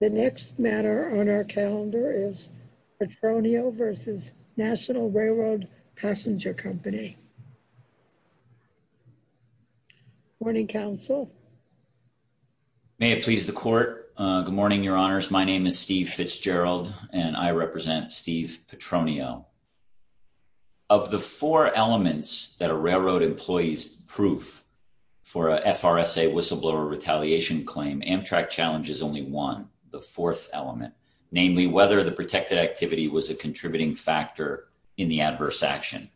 The next matter on our calendar is Petronio v. National Railroad Passenger Company. Good morning, counsel. May it please the court, good morning, your honors. My name is Steve Fitzgerald and I represent Steve Petronio. Of the four elements that a railroad employee's proof for a FRSA whistleblower retaliation claim, Amtrak challenges only one, the fourth element, namely whether the protected activity was a contributing factor in the adverse action.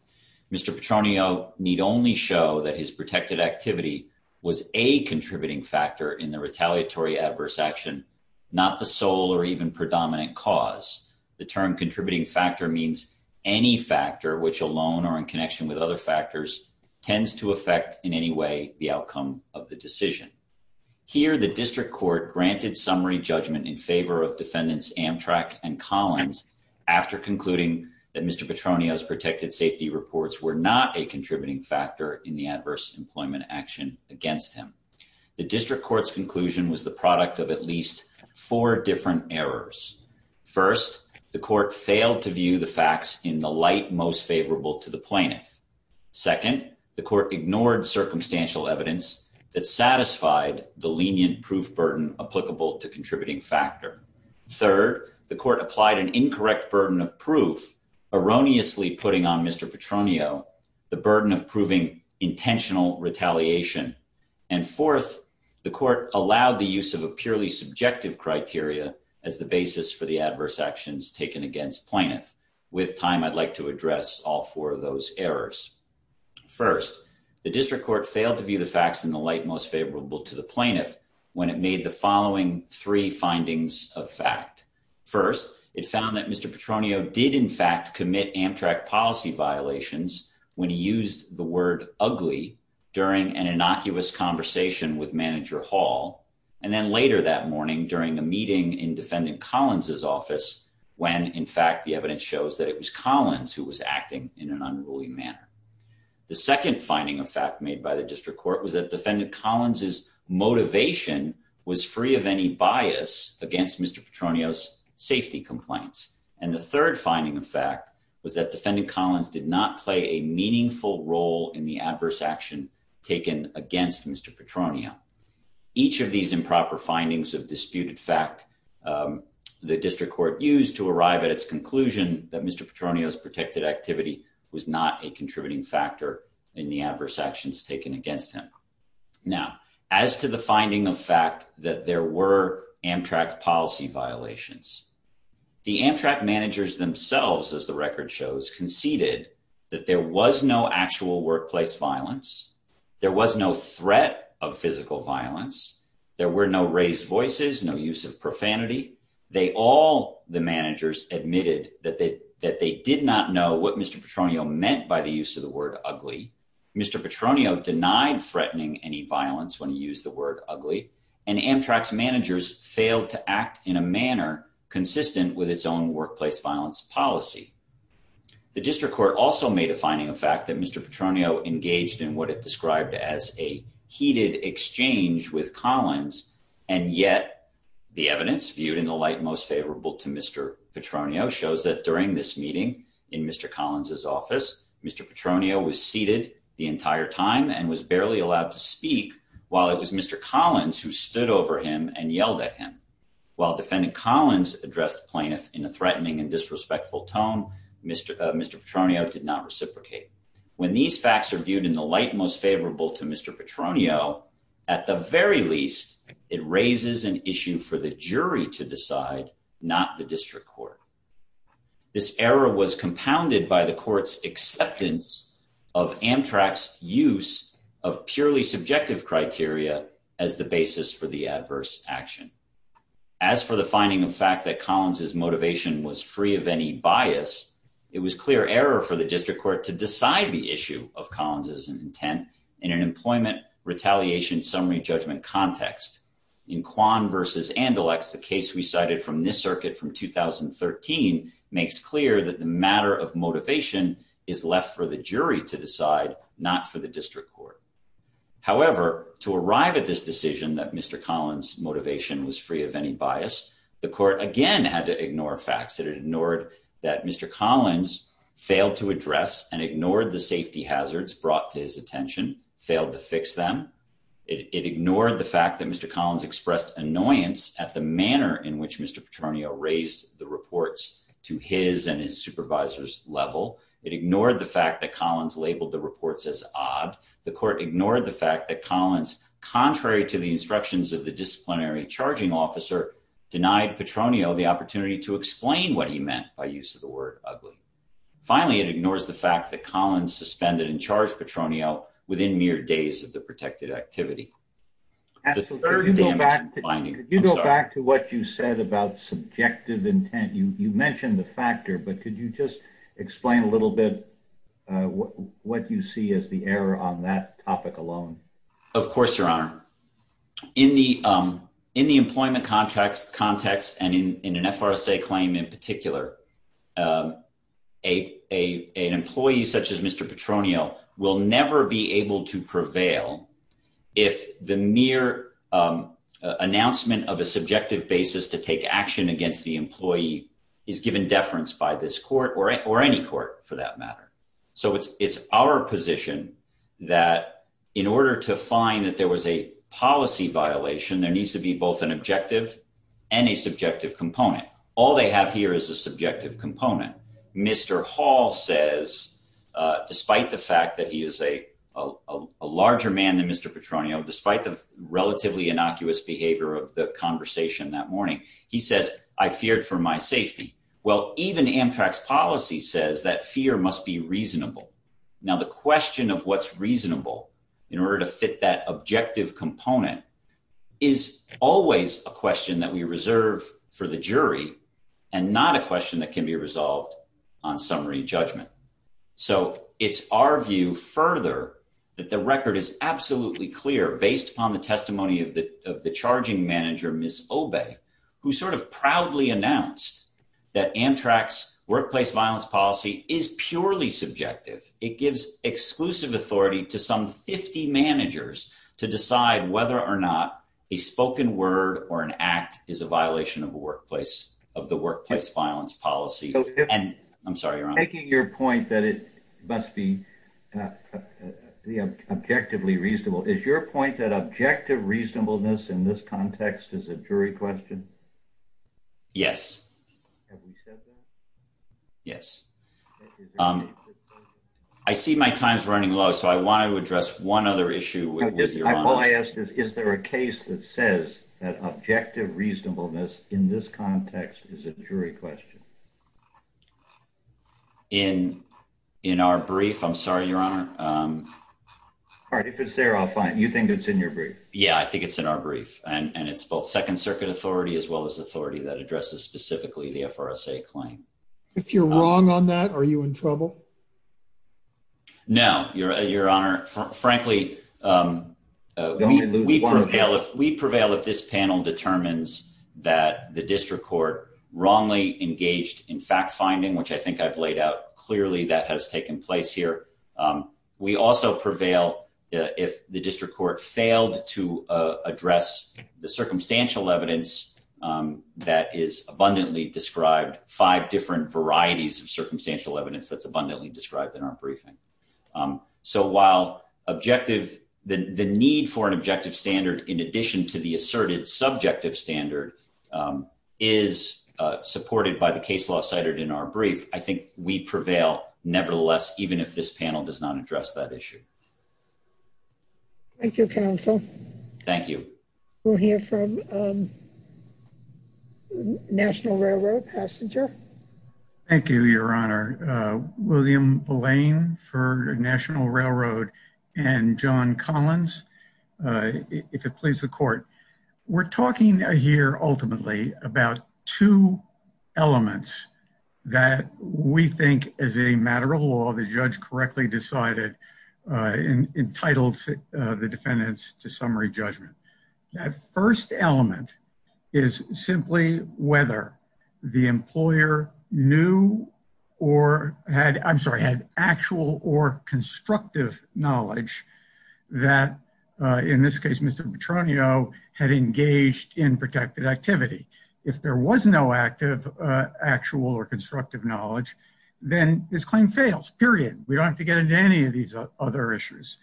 Mr. Petronio need only show that his protected activity was a contributing factor in the retaliatory adverse action, not the sole or even predominant cause. The term contributing factor means any factor which alone or in connection with other factors tends to affect in any way the outcome of the decision. Here, the district court granted summary judgment in favor of defendants Amtrak and Collins after concluding that Mr. Petronio's protected safety reports were not a contributing factor in the adverse employment action against him. The district court's conclusion was the product of at least four different errors. First, the court failed to view the facts in the light most favorable to the plaintiff. Second, the court ignored circumstantial evidence that satisfied the lenient proof burden applicable to contributing factor. Third, the court applied an incorrect burden of proof, erroneously putting on Mr. Petronio the burden of proving intentional retaliation. And fourth, the court allowed the use of a purely subjective criteria as the basis for the adverse actions taken against plaintiff. With time, I'd like to address all four of those errors. First, the district court failed to view the facts in the light most favorable to the plaintiff when it made the following three findings of fact. First, it found that Mr. Petronio did in fact commit Amtrak policy violations when he used the word ugly during an innocuous conversation with manager Hall, and then later that morning during a meeting in defendant Collins's office when in fact the evidence shows that it was Collins who was acting in an unruly manner. The second finding of fact made by the district court was that defendant Collins's motivation was free of any bias against Mr. Petronio's safety complaints. And the third finding of fact was that defendant Collins did not play a meaningful role in the adverse action taken against Mr. Petronio. Each of these improper findings of disputed fact the district court used to arrive at its conclusion that Mr. Petronio's protected activity was not a contributing factor in the adverse actions taken against him. Now, as to the finding of fact that there were Amtrak policy violations, the Amtrak managers themselves, as the record shows, conceded that there was no actual workplace violence. There was no threat of physical violence. There were no raised voices, no use of profanity. They all the managers admitted that they that they did not know what Mr. Petronio meant by the use of the word ugly. Mr. Petronio denied threatening any violence when he used the word ugly. And Amtrak's managers failed to act in a manner consistent with its own workplace violence policy. The district court also made a finding of fact that Mr. Petronio engaged in what it described as a heated exchange with Collins. And yet the evidence viewed in the light most favorable to Mr. Petronio shows that during this meeting in Mr. Collins's office, Mr. Petronio was seated the entire time and was barely allowed to speak while it was Mr. Collins who stood over him and yelled at him while defendant Collins addressed plaintiff in a threatening and disrespectful tone. Mr. Mr. Petronio did not reciprocate. When these facts are viewed in the light most favorable to Mr. Petronio, at the very least, it raises an issue for the jury to decide, not the district court. This error was compounded by the court's acceptance of Amtrak's use of purely subjective criteria as the basis for the adverse action. As for the finding of fact that Collins's motivation was free of any bias, it was clear error for the district court to decide the issue of Collins's intent in an employment retaliation summary judgment context. In Quan versus Andalux, the case we cited from this circuit from 2013 makes clear that the matter of motivation is left for the jury to decide, not for the district court. However, to arrive at this decision that Mr. Collins motivation was free of any bias, the court again had to ignore facts that it ignored that Mr. Collins failed to address and ignored the safety hazards brought to his attention, failed to fix them. It ignored the fact that Mr. Collins expressed annoyance at the manner in which Mr. Petronio raised the reports to his and his supervisor's level. It ignored the fact that Collins labeled the reports as odd. The court ignored the fact that Collins, contrary to the instructions of the disciplinary charging officer, denied Petronio the opportunity to explain what he meant by use of the word ugly. Finally, it ignores the fact that Collins suspended and charged Petronio within mere days of the protected activity. As the third day, you go back to what you said about subjective intent, you mentioned the factor, but could you just explain a little bit what you see as the error on that topic alone? Of course, your honor, in the in the employment contracts context and in an FRSA claim in particular, a an employee such as Mr. Petronio will never be able to prevail if the mere announcement of a subjective basis to take action against the employee is given deference by this court or or any court for that matter. So it's it's our position that in order to find that there was a policy violation, there needs to be both an objective and a subjective component. All they have here is a subjective component. Mr. Hall says, despite the fact that he is a larger man than Mr. Petronio, despite the relatively innocuous behavior of the conversation that morning, he says, I feared for my safety. Well, even Amtrak's policy says that fear must be reasonable. Now, the question of what's reasonable in order to fit that objective component is always a question that we reserve for the jury and not a question that can be resolved on summary judgment. So it's our view further that the record is absolutely clear based on the testimony of the of the charging manager, Ms. Obey, who sort of proudly announced that Amtrak's workplace violence policy is purely subjective. It gives exclusive authority to some 50 managers to decide whether or not a report or an act is a violation of a workplace of the workplace violence policy. And I'm sorry, you're making your point that it must be the objectively reasonable. Is your point that objective reasonableness in this context is a jury question? Yes. Yes. I see my time's running low, so I want to address one other issue. I asked, is there a case that says that objective reasonableness in this context is a jury question? In in our brief, I'm sorry, your honor. All right. If it's there, I'll find you think it's in your brief. Yeah, I think it's in our brief. And it's both Second Circuit authority as well as authority that addresses specifically the FRSA claim. If you're wrong on that, are you in trouble? No, your honor, frankly, we prevail if we prevail, if this panel determines that the district court wrongly engaged in fact finding, which I think I've laid out clearly that has taken place here. We also prevail if the district court failed to address the circumstantial evidence that is abundantly described five different varieties of circumstantial evidence that's abundantly described in our briefing. So while objective, the need for an objective standard, in addition to the asserted subjective standard, is supported by the case law cited in our brief. I think we prevail, nevertheless, even if this panel does not address that issue. Thank you, counsel. Thank you. We'll hear from National Railroad passenger. Thank you, your honor. William Blaine for National Railroad and John Collins, if it please the court. We're talking here ultimately about two elements that we think as a matter of law, the judge correctly decided entitled the defendants to summary judgment. That first element is simply whether the employer knew or had I'm sorry, had actual or constructive knowledge that in this case, Mr. Petronio had engaged in protected activity. If there was no active, actual or constructive knowledge, then this claim fails. Period. We don't have to get into any of these other issues.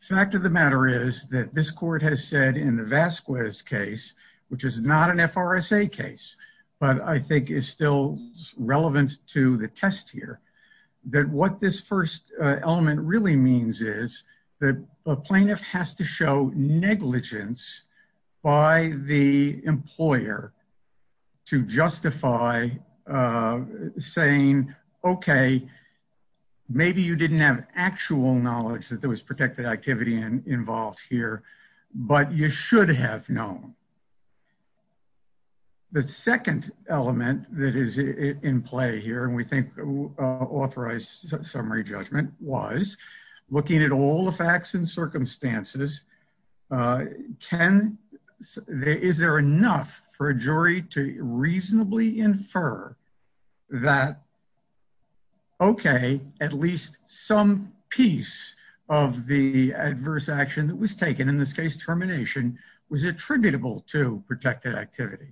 Fact of the matter is that this court has said in the Vasquez case, which is not an FRSA case, but I think is still relevant to the test here, that what this first element really means is that a plaintiff has to show negligence by the employer to justify saying, OK, maybe you didn't have actual knowledge that there was protected activity involved here, but you should have known. The second element that is in play here, and we think authorized summary judgment was looking at all the facts and circumstances. Can there is there enough for a jury to reasonably infer that. OK, at least some piece of the adverse action that was taken in this case, termination was attributable to protected activity.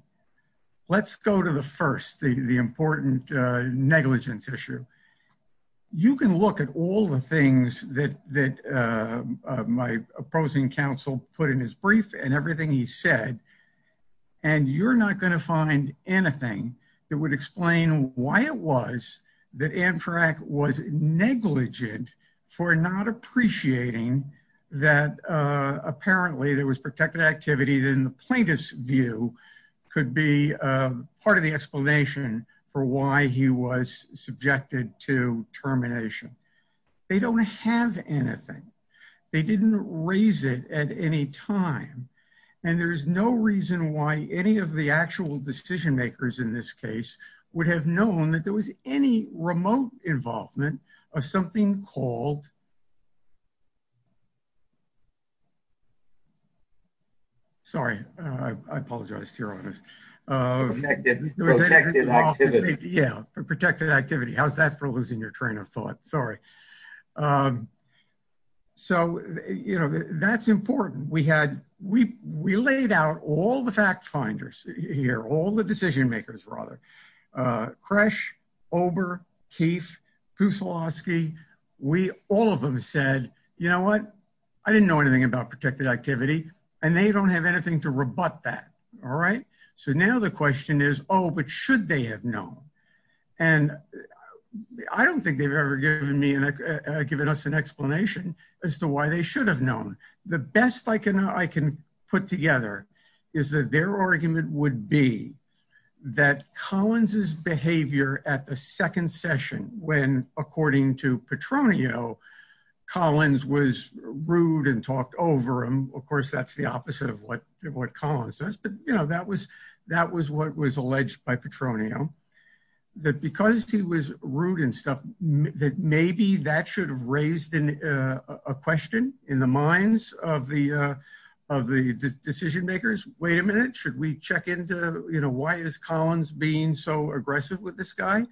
Let's go to the first, the important negligence issue. You can look at all the things that that my opposing counsel put in his brief and everything he said, and you're not going to find anything that would explain why it was that Amtrak was negligent for not appreciating that apparently there was protected activity than the plaintiff's view could be part of the explanation for why he was subjected to termination. They don't have anything. They didn't raise it at any time. And there's no reason why any of the actual decision makers in this case would have known that there was any remote involvement of something called. Sorry, I apologize to your honors. Yeah, protected activity. How's that for losing your train of thought? Sorry. So, you know, that's important. We had we we laid out all the fact finders here, all the decision makers rather. Crash, Ober, Keefe, Pusilovsky, we all of them said, you know what, I didn't know anything about protected activity and they don't have anything to rebut that. All right. So now the question is, oh, but should they have known? And I don't think they've ever given me and given us an explanation as to why they should have known. The best I can I can put together is that their argument would be that Collins's behavior at the second session, when, according to Petronio, Collins was rude and talked over him, of course, that's the opposite of what what Collins says. But, you know, that was that was what was alleged by Petronio, that because he was rude and stuff, that maybe that should have raised a question in the minds of the of the decision makers. Wait a minute. Should we check into, you know, why is Collins being so aggressive with this guy?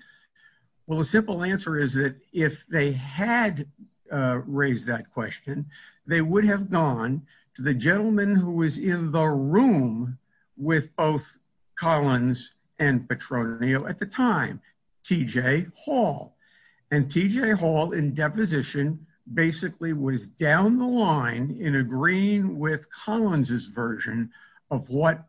Well, a simple answer is that if they had raised that question, they would have gone to the gentleman who was in the room with both Collins and Petronio at the time, T.J. Hall. And T.J. Hall, in deposition, basically was down the line in agreeing with Collins's version of what Petronio said.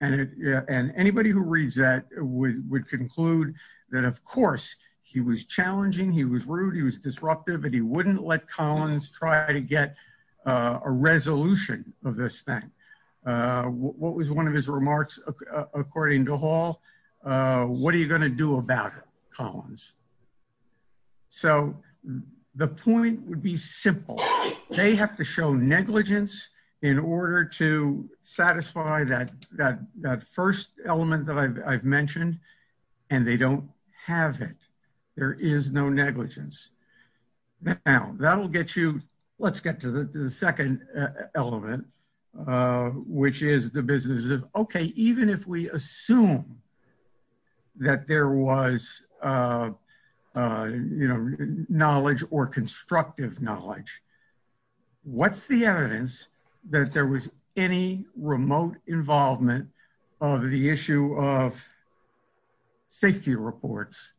And he, who reads that, would conclude that, of course, he was challenging. He was rude. He was disruptive, and he wouldn't let Collins try to get a resolution of this thing. What was one of his remarks, according to Hall, what are you going to do about it, Collins? So the point would be simple. They have to show negligence in order to satisfy that first element that I've mentioned, and they don't have it. There is no negligence. Now, that'll get you, let's get to the second element, which is the business of, okay, even if we assume that there was, you know, what's the evidence that there was any remote involvement of the issue of safety reports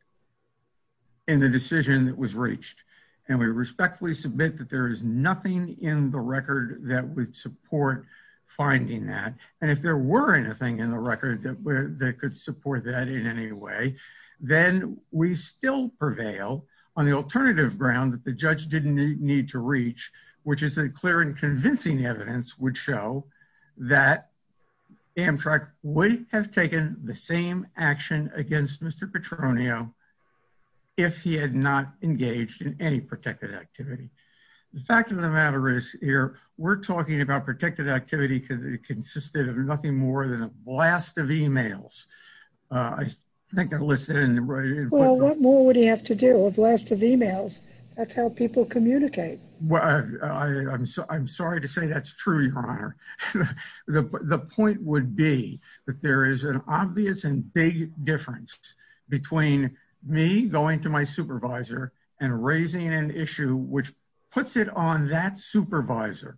in the decision that was reached? And we respectfully submit that there is nothing in the record that would support finding that. And if there were anything in the record that could support that in any way, then we still prevail on the alternative ground that the which is a clear and convincing evidence would show that Amtrak would have taken the same action against Mr. Petronio if he had not engaged in any protected activity. The fact of the matter is here, we're talking about protected activity because it consisted of nothing more than a blast of emails. I think I listed it in the- Well, what more would he have to do? A blast of emails. That's how people communicate. Well, I'm sorry to say that's true, Your Honor. The point would be that there is an obvious and big difference between me going to my supervisor and raising an issue which puts it on that supervisor,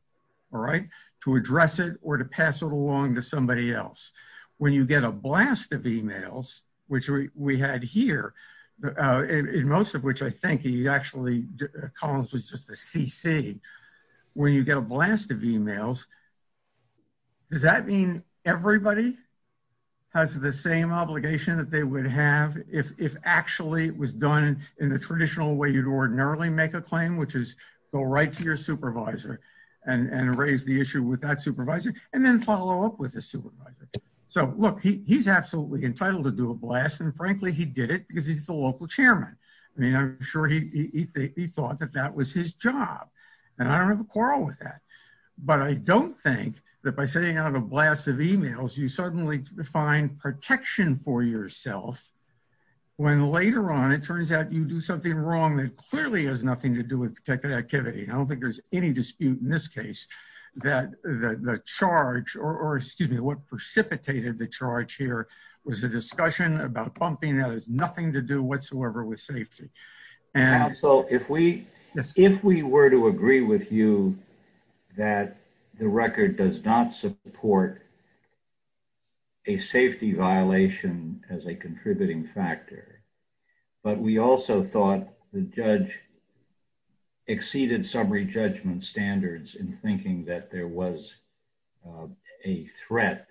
all right, to address it or to pass it along to somebody else. When you get a blast of emails, which we had here, in most of which I think he actually- Collins was just a CC. When you get a blast of emails, does that mean everybody has the same obligation that they would have if actually it was done in the traditional way you'd ordinarily make a claim, which is go right to your supervisor and raise the issue with that supervisor and then follow up with the supervisor? Look, he's absolutely entitled to do a blast, and frankly, he did it because he's the local chairman. I mean, I'm sure he thought that that was his job, and I don't have a quarrel with that, but I don't think that by sending out a blast of emails, you suddenly find protection for yourself when later on it turns out you do something wrong that clearly has nothing to do with protected activity. I don't think there's any dispute in this case that the charge or, excuse me, what precipitated the charge here was a discussion about pumping that has nothing to do whatsoever with safety. Counsel, if we were to agree with you that the record does not support a safety violation as a contributing factor, but we also thought the judge exceeded summary judgment standards in thinking that there was a threat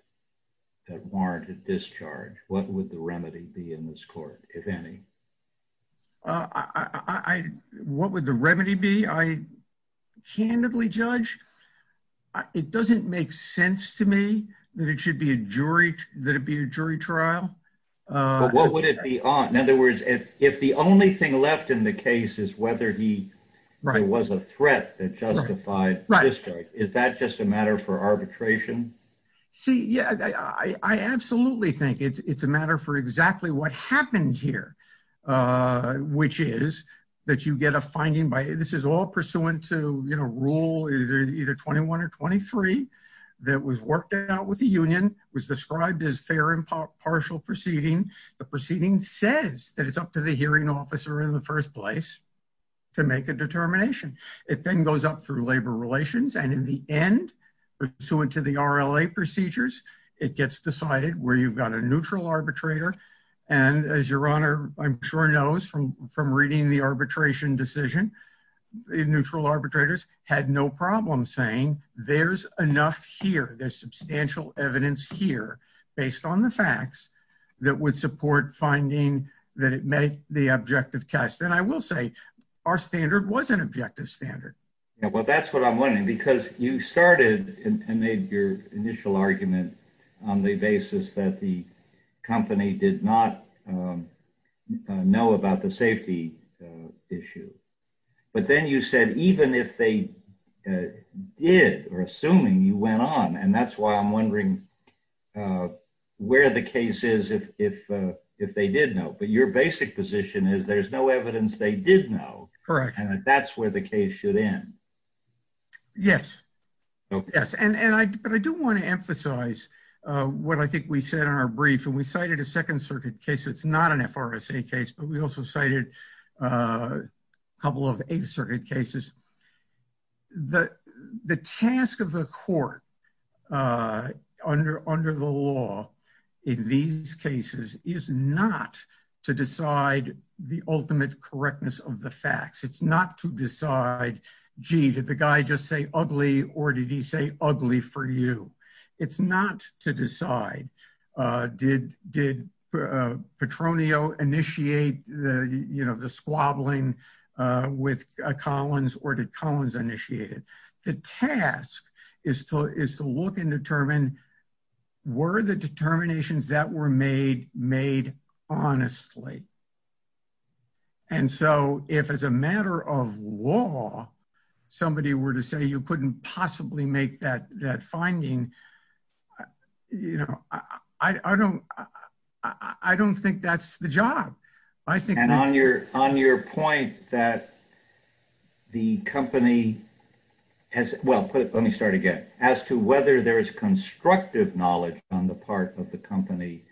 that warranted discharge, what would the remedy be in this court, if any? What would the remedy be? I candidly, Judge, it doesn't make sense to me that it should be a jury trial. But what would it be on? In other words, if the only thing left in the case is whether he was a threat that justified discharge, is that just a matter for arbitration? See, yeah, I absolutely think it's a matter for exactly what happened here, which is that you get a finding by, this is all pursuant to rule either 21 or 23 that was worked out with the union, was described as fair and partial proceeding. The proceeding says that it's up to the hearing officer in the first place to make a determination. It then goes up through labor relations. And in the end, pursuant to the RLA procedures, it gets decided where you've got a neutral arbitrator. And as your honor, I'm sure knows from reading the arbitration decision, neutral arbitrators had no problem saying there's enough here, there's substantial evidence here, based on the facts that would support finding that it made the objective test. And I will say, our standard was an objective standard. Yeah, well, that's what I'm wondering, because you started and made your initial argument on the basis that the company did not know about the safety issue. But then you said, even if they did, or assuming you went on, and that's why I'm wondering where the case is if they did know. But your basic position is, there's no evidence they did know. Correct. And that's where the case should end. Yes. Yes. And I do want to emphasize what I think we said in our brief, and we cited a not an FRSA case, but we also cited a couple of Eighth Circuit cases. The task of the court under the law in these cases is not to decide the ultimate correctness of the facts. It's not to decide, gee, did the guy just say ugly, or did he say ugly for you? It's not to decide, did Petronio initiate the squabbling with Collins, or did Collins initiated? The task is to look and determine, were the determinations that were made, made honestly? And so if as a matter of law, somebody were to say you couldn't possibly make that finding, I don't think that's the job. And on your point that the company has, well, let me start again, as to whether there is constructive knowledge on the part of the company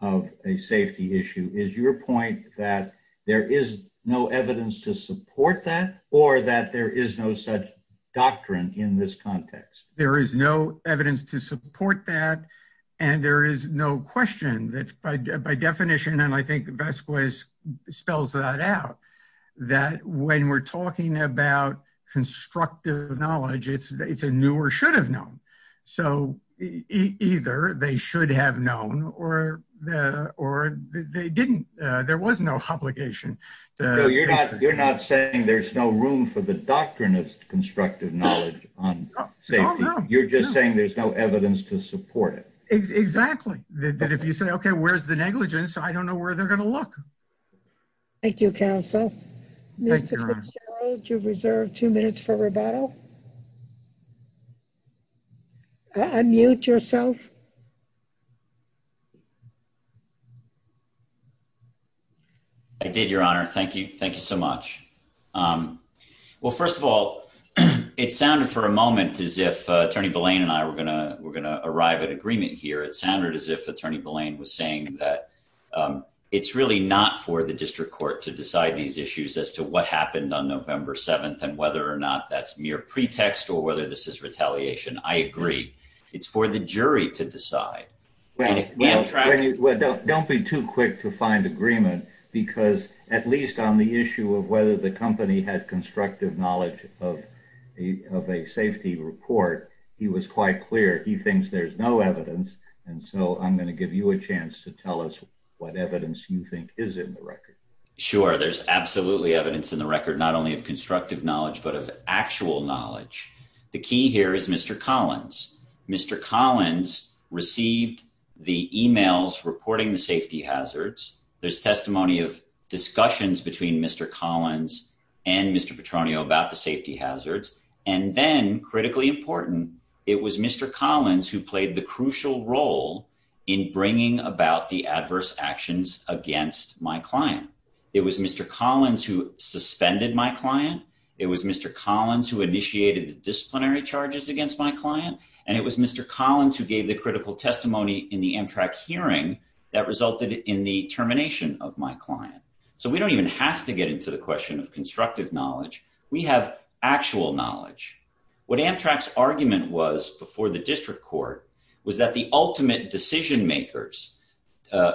of a safety issue, is your point that there is no evidence to support that, or that there is no such question that by definition, and I think Vasquez spells that out, that when we're talking about constructive knowledge, it's a new or should have known. So either they should have known, or they didn't. There was no obligation. You're not saying there's no room for the doctrine of constructive knowledge on safety. You're just saying there's no evidence to support it. Exactly. That if you say, okay, where's the negligence? I don't know where they're going to look. Thank you, counsel. Mr. Fitzgerald, you have reserved two minutes for rebuttal. Unmute yourself. I did, your honor. Thank you. Thank you so much. Well, first of all, it sounded for a moment as if attorney Belayne and I were going to arrive at agreement here. It sounded as if attorney Belayne was saying that it's really not for the district court to decide these issues as to what happened on November 7th and whether or not that's mere pretext or whether this is retaliation. I agree. It's for the jury to decide. Don't be too quick to find agreement because at least on the he was quite clear. He thinks there's no evidence. And so I'm going to give you a chance to tell us what evidence you think is in the record. Sure. There's absolutely evidence in the record, not only of constructive knowledge, but of actual knowledge. The key here is Mr. Collins. Mr. Collins received the emails reporting the safety hazards. There's testimony of discussions between Mr. Collins and Mr. Petronio about the safety hazards. And then critically important, it was Mr. Collins who played the crucial role in bringing about the adverse actions against my client. It was Mr. Collins who suspended my client. It was Mr. Collins who initiated the disciplinary charges against my client. And it was Mr. Collins who gave the critical testimony in the Amtrak hearing that resulted in the termination of my client. So we don't even have to get into the question of constructive knowledge. We have actual knowledge. What Amtrak's argument was before the district court was that the ultimate decision makers,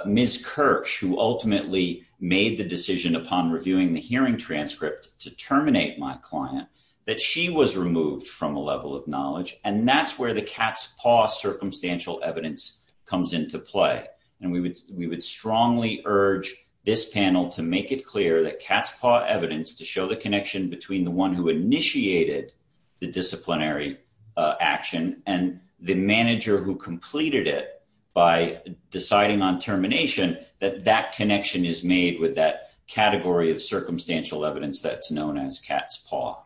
Ms. Kirsch, who ultimately made the decision upon reviewing the hearing transcript to terminate my client, that she was removed from a level of knowledge. And that's where the cat's paw circumstantial evidence comes into play. And we would strongly urge this panel to make it clear that cat's paw evidence to show the connection between the one who initiated the disciplinary action and the manager who completed it by deciding on termination, that that connection is made with that category of circumstantial evidence that's known as cat's paw.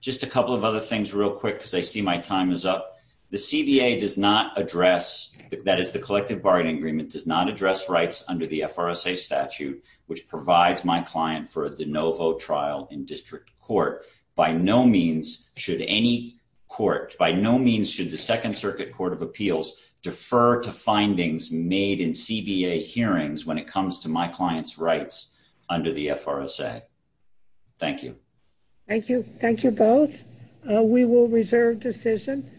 Just a couple of other things real quick because I see my time is up. The CBA does not address, that is the collective bargaining agreement, does not address rights under the FRSA statute which provides my client for the no vote trial in district court. By no means should any court, by no means should the Second Circuit Court of Appeals defer to findings made in CBA hearings when it comes to my client's rights under the FRSA. Thank you. Thank you. Thank you both. We will reserve decision.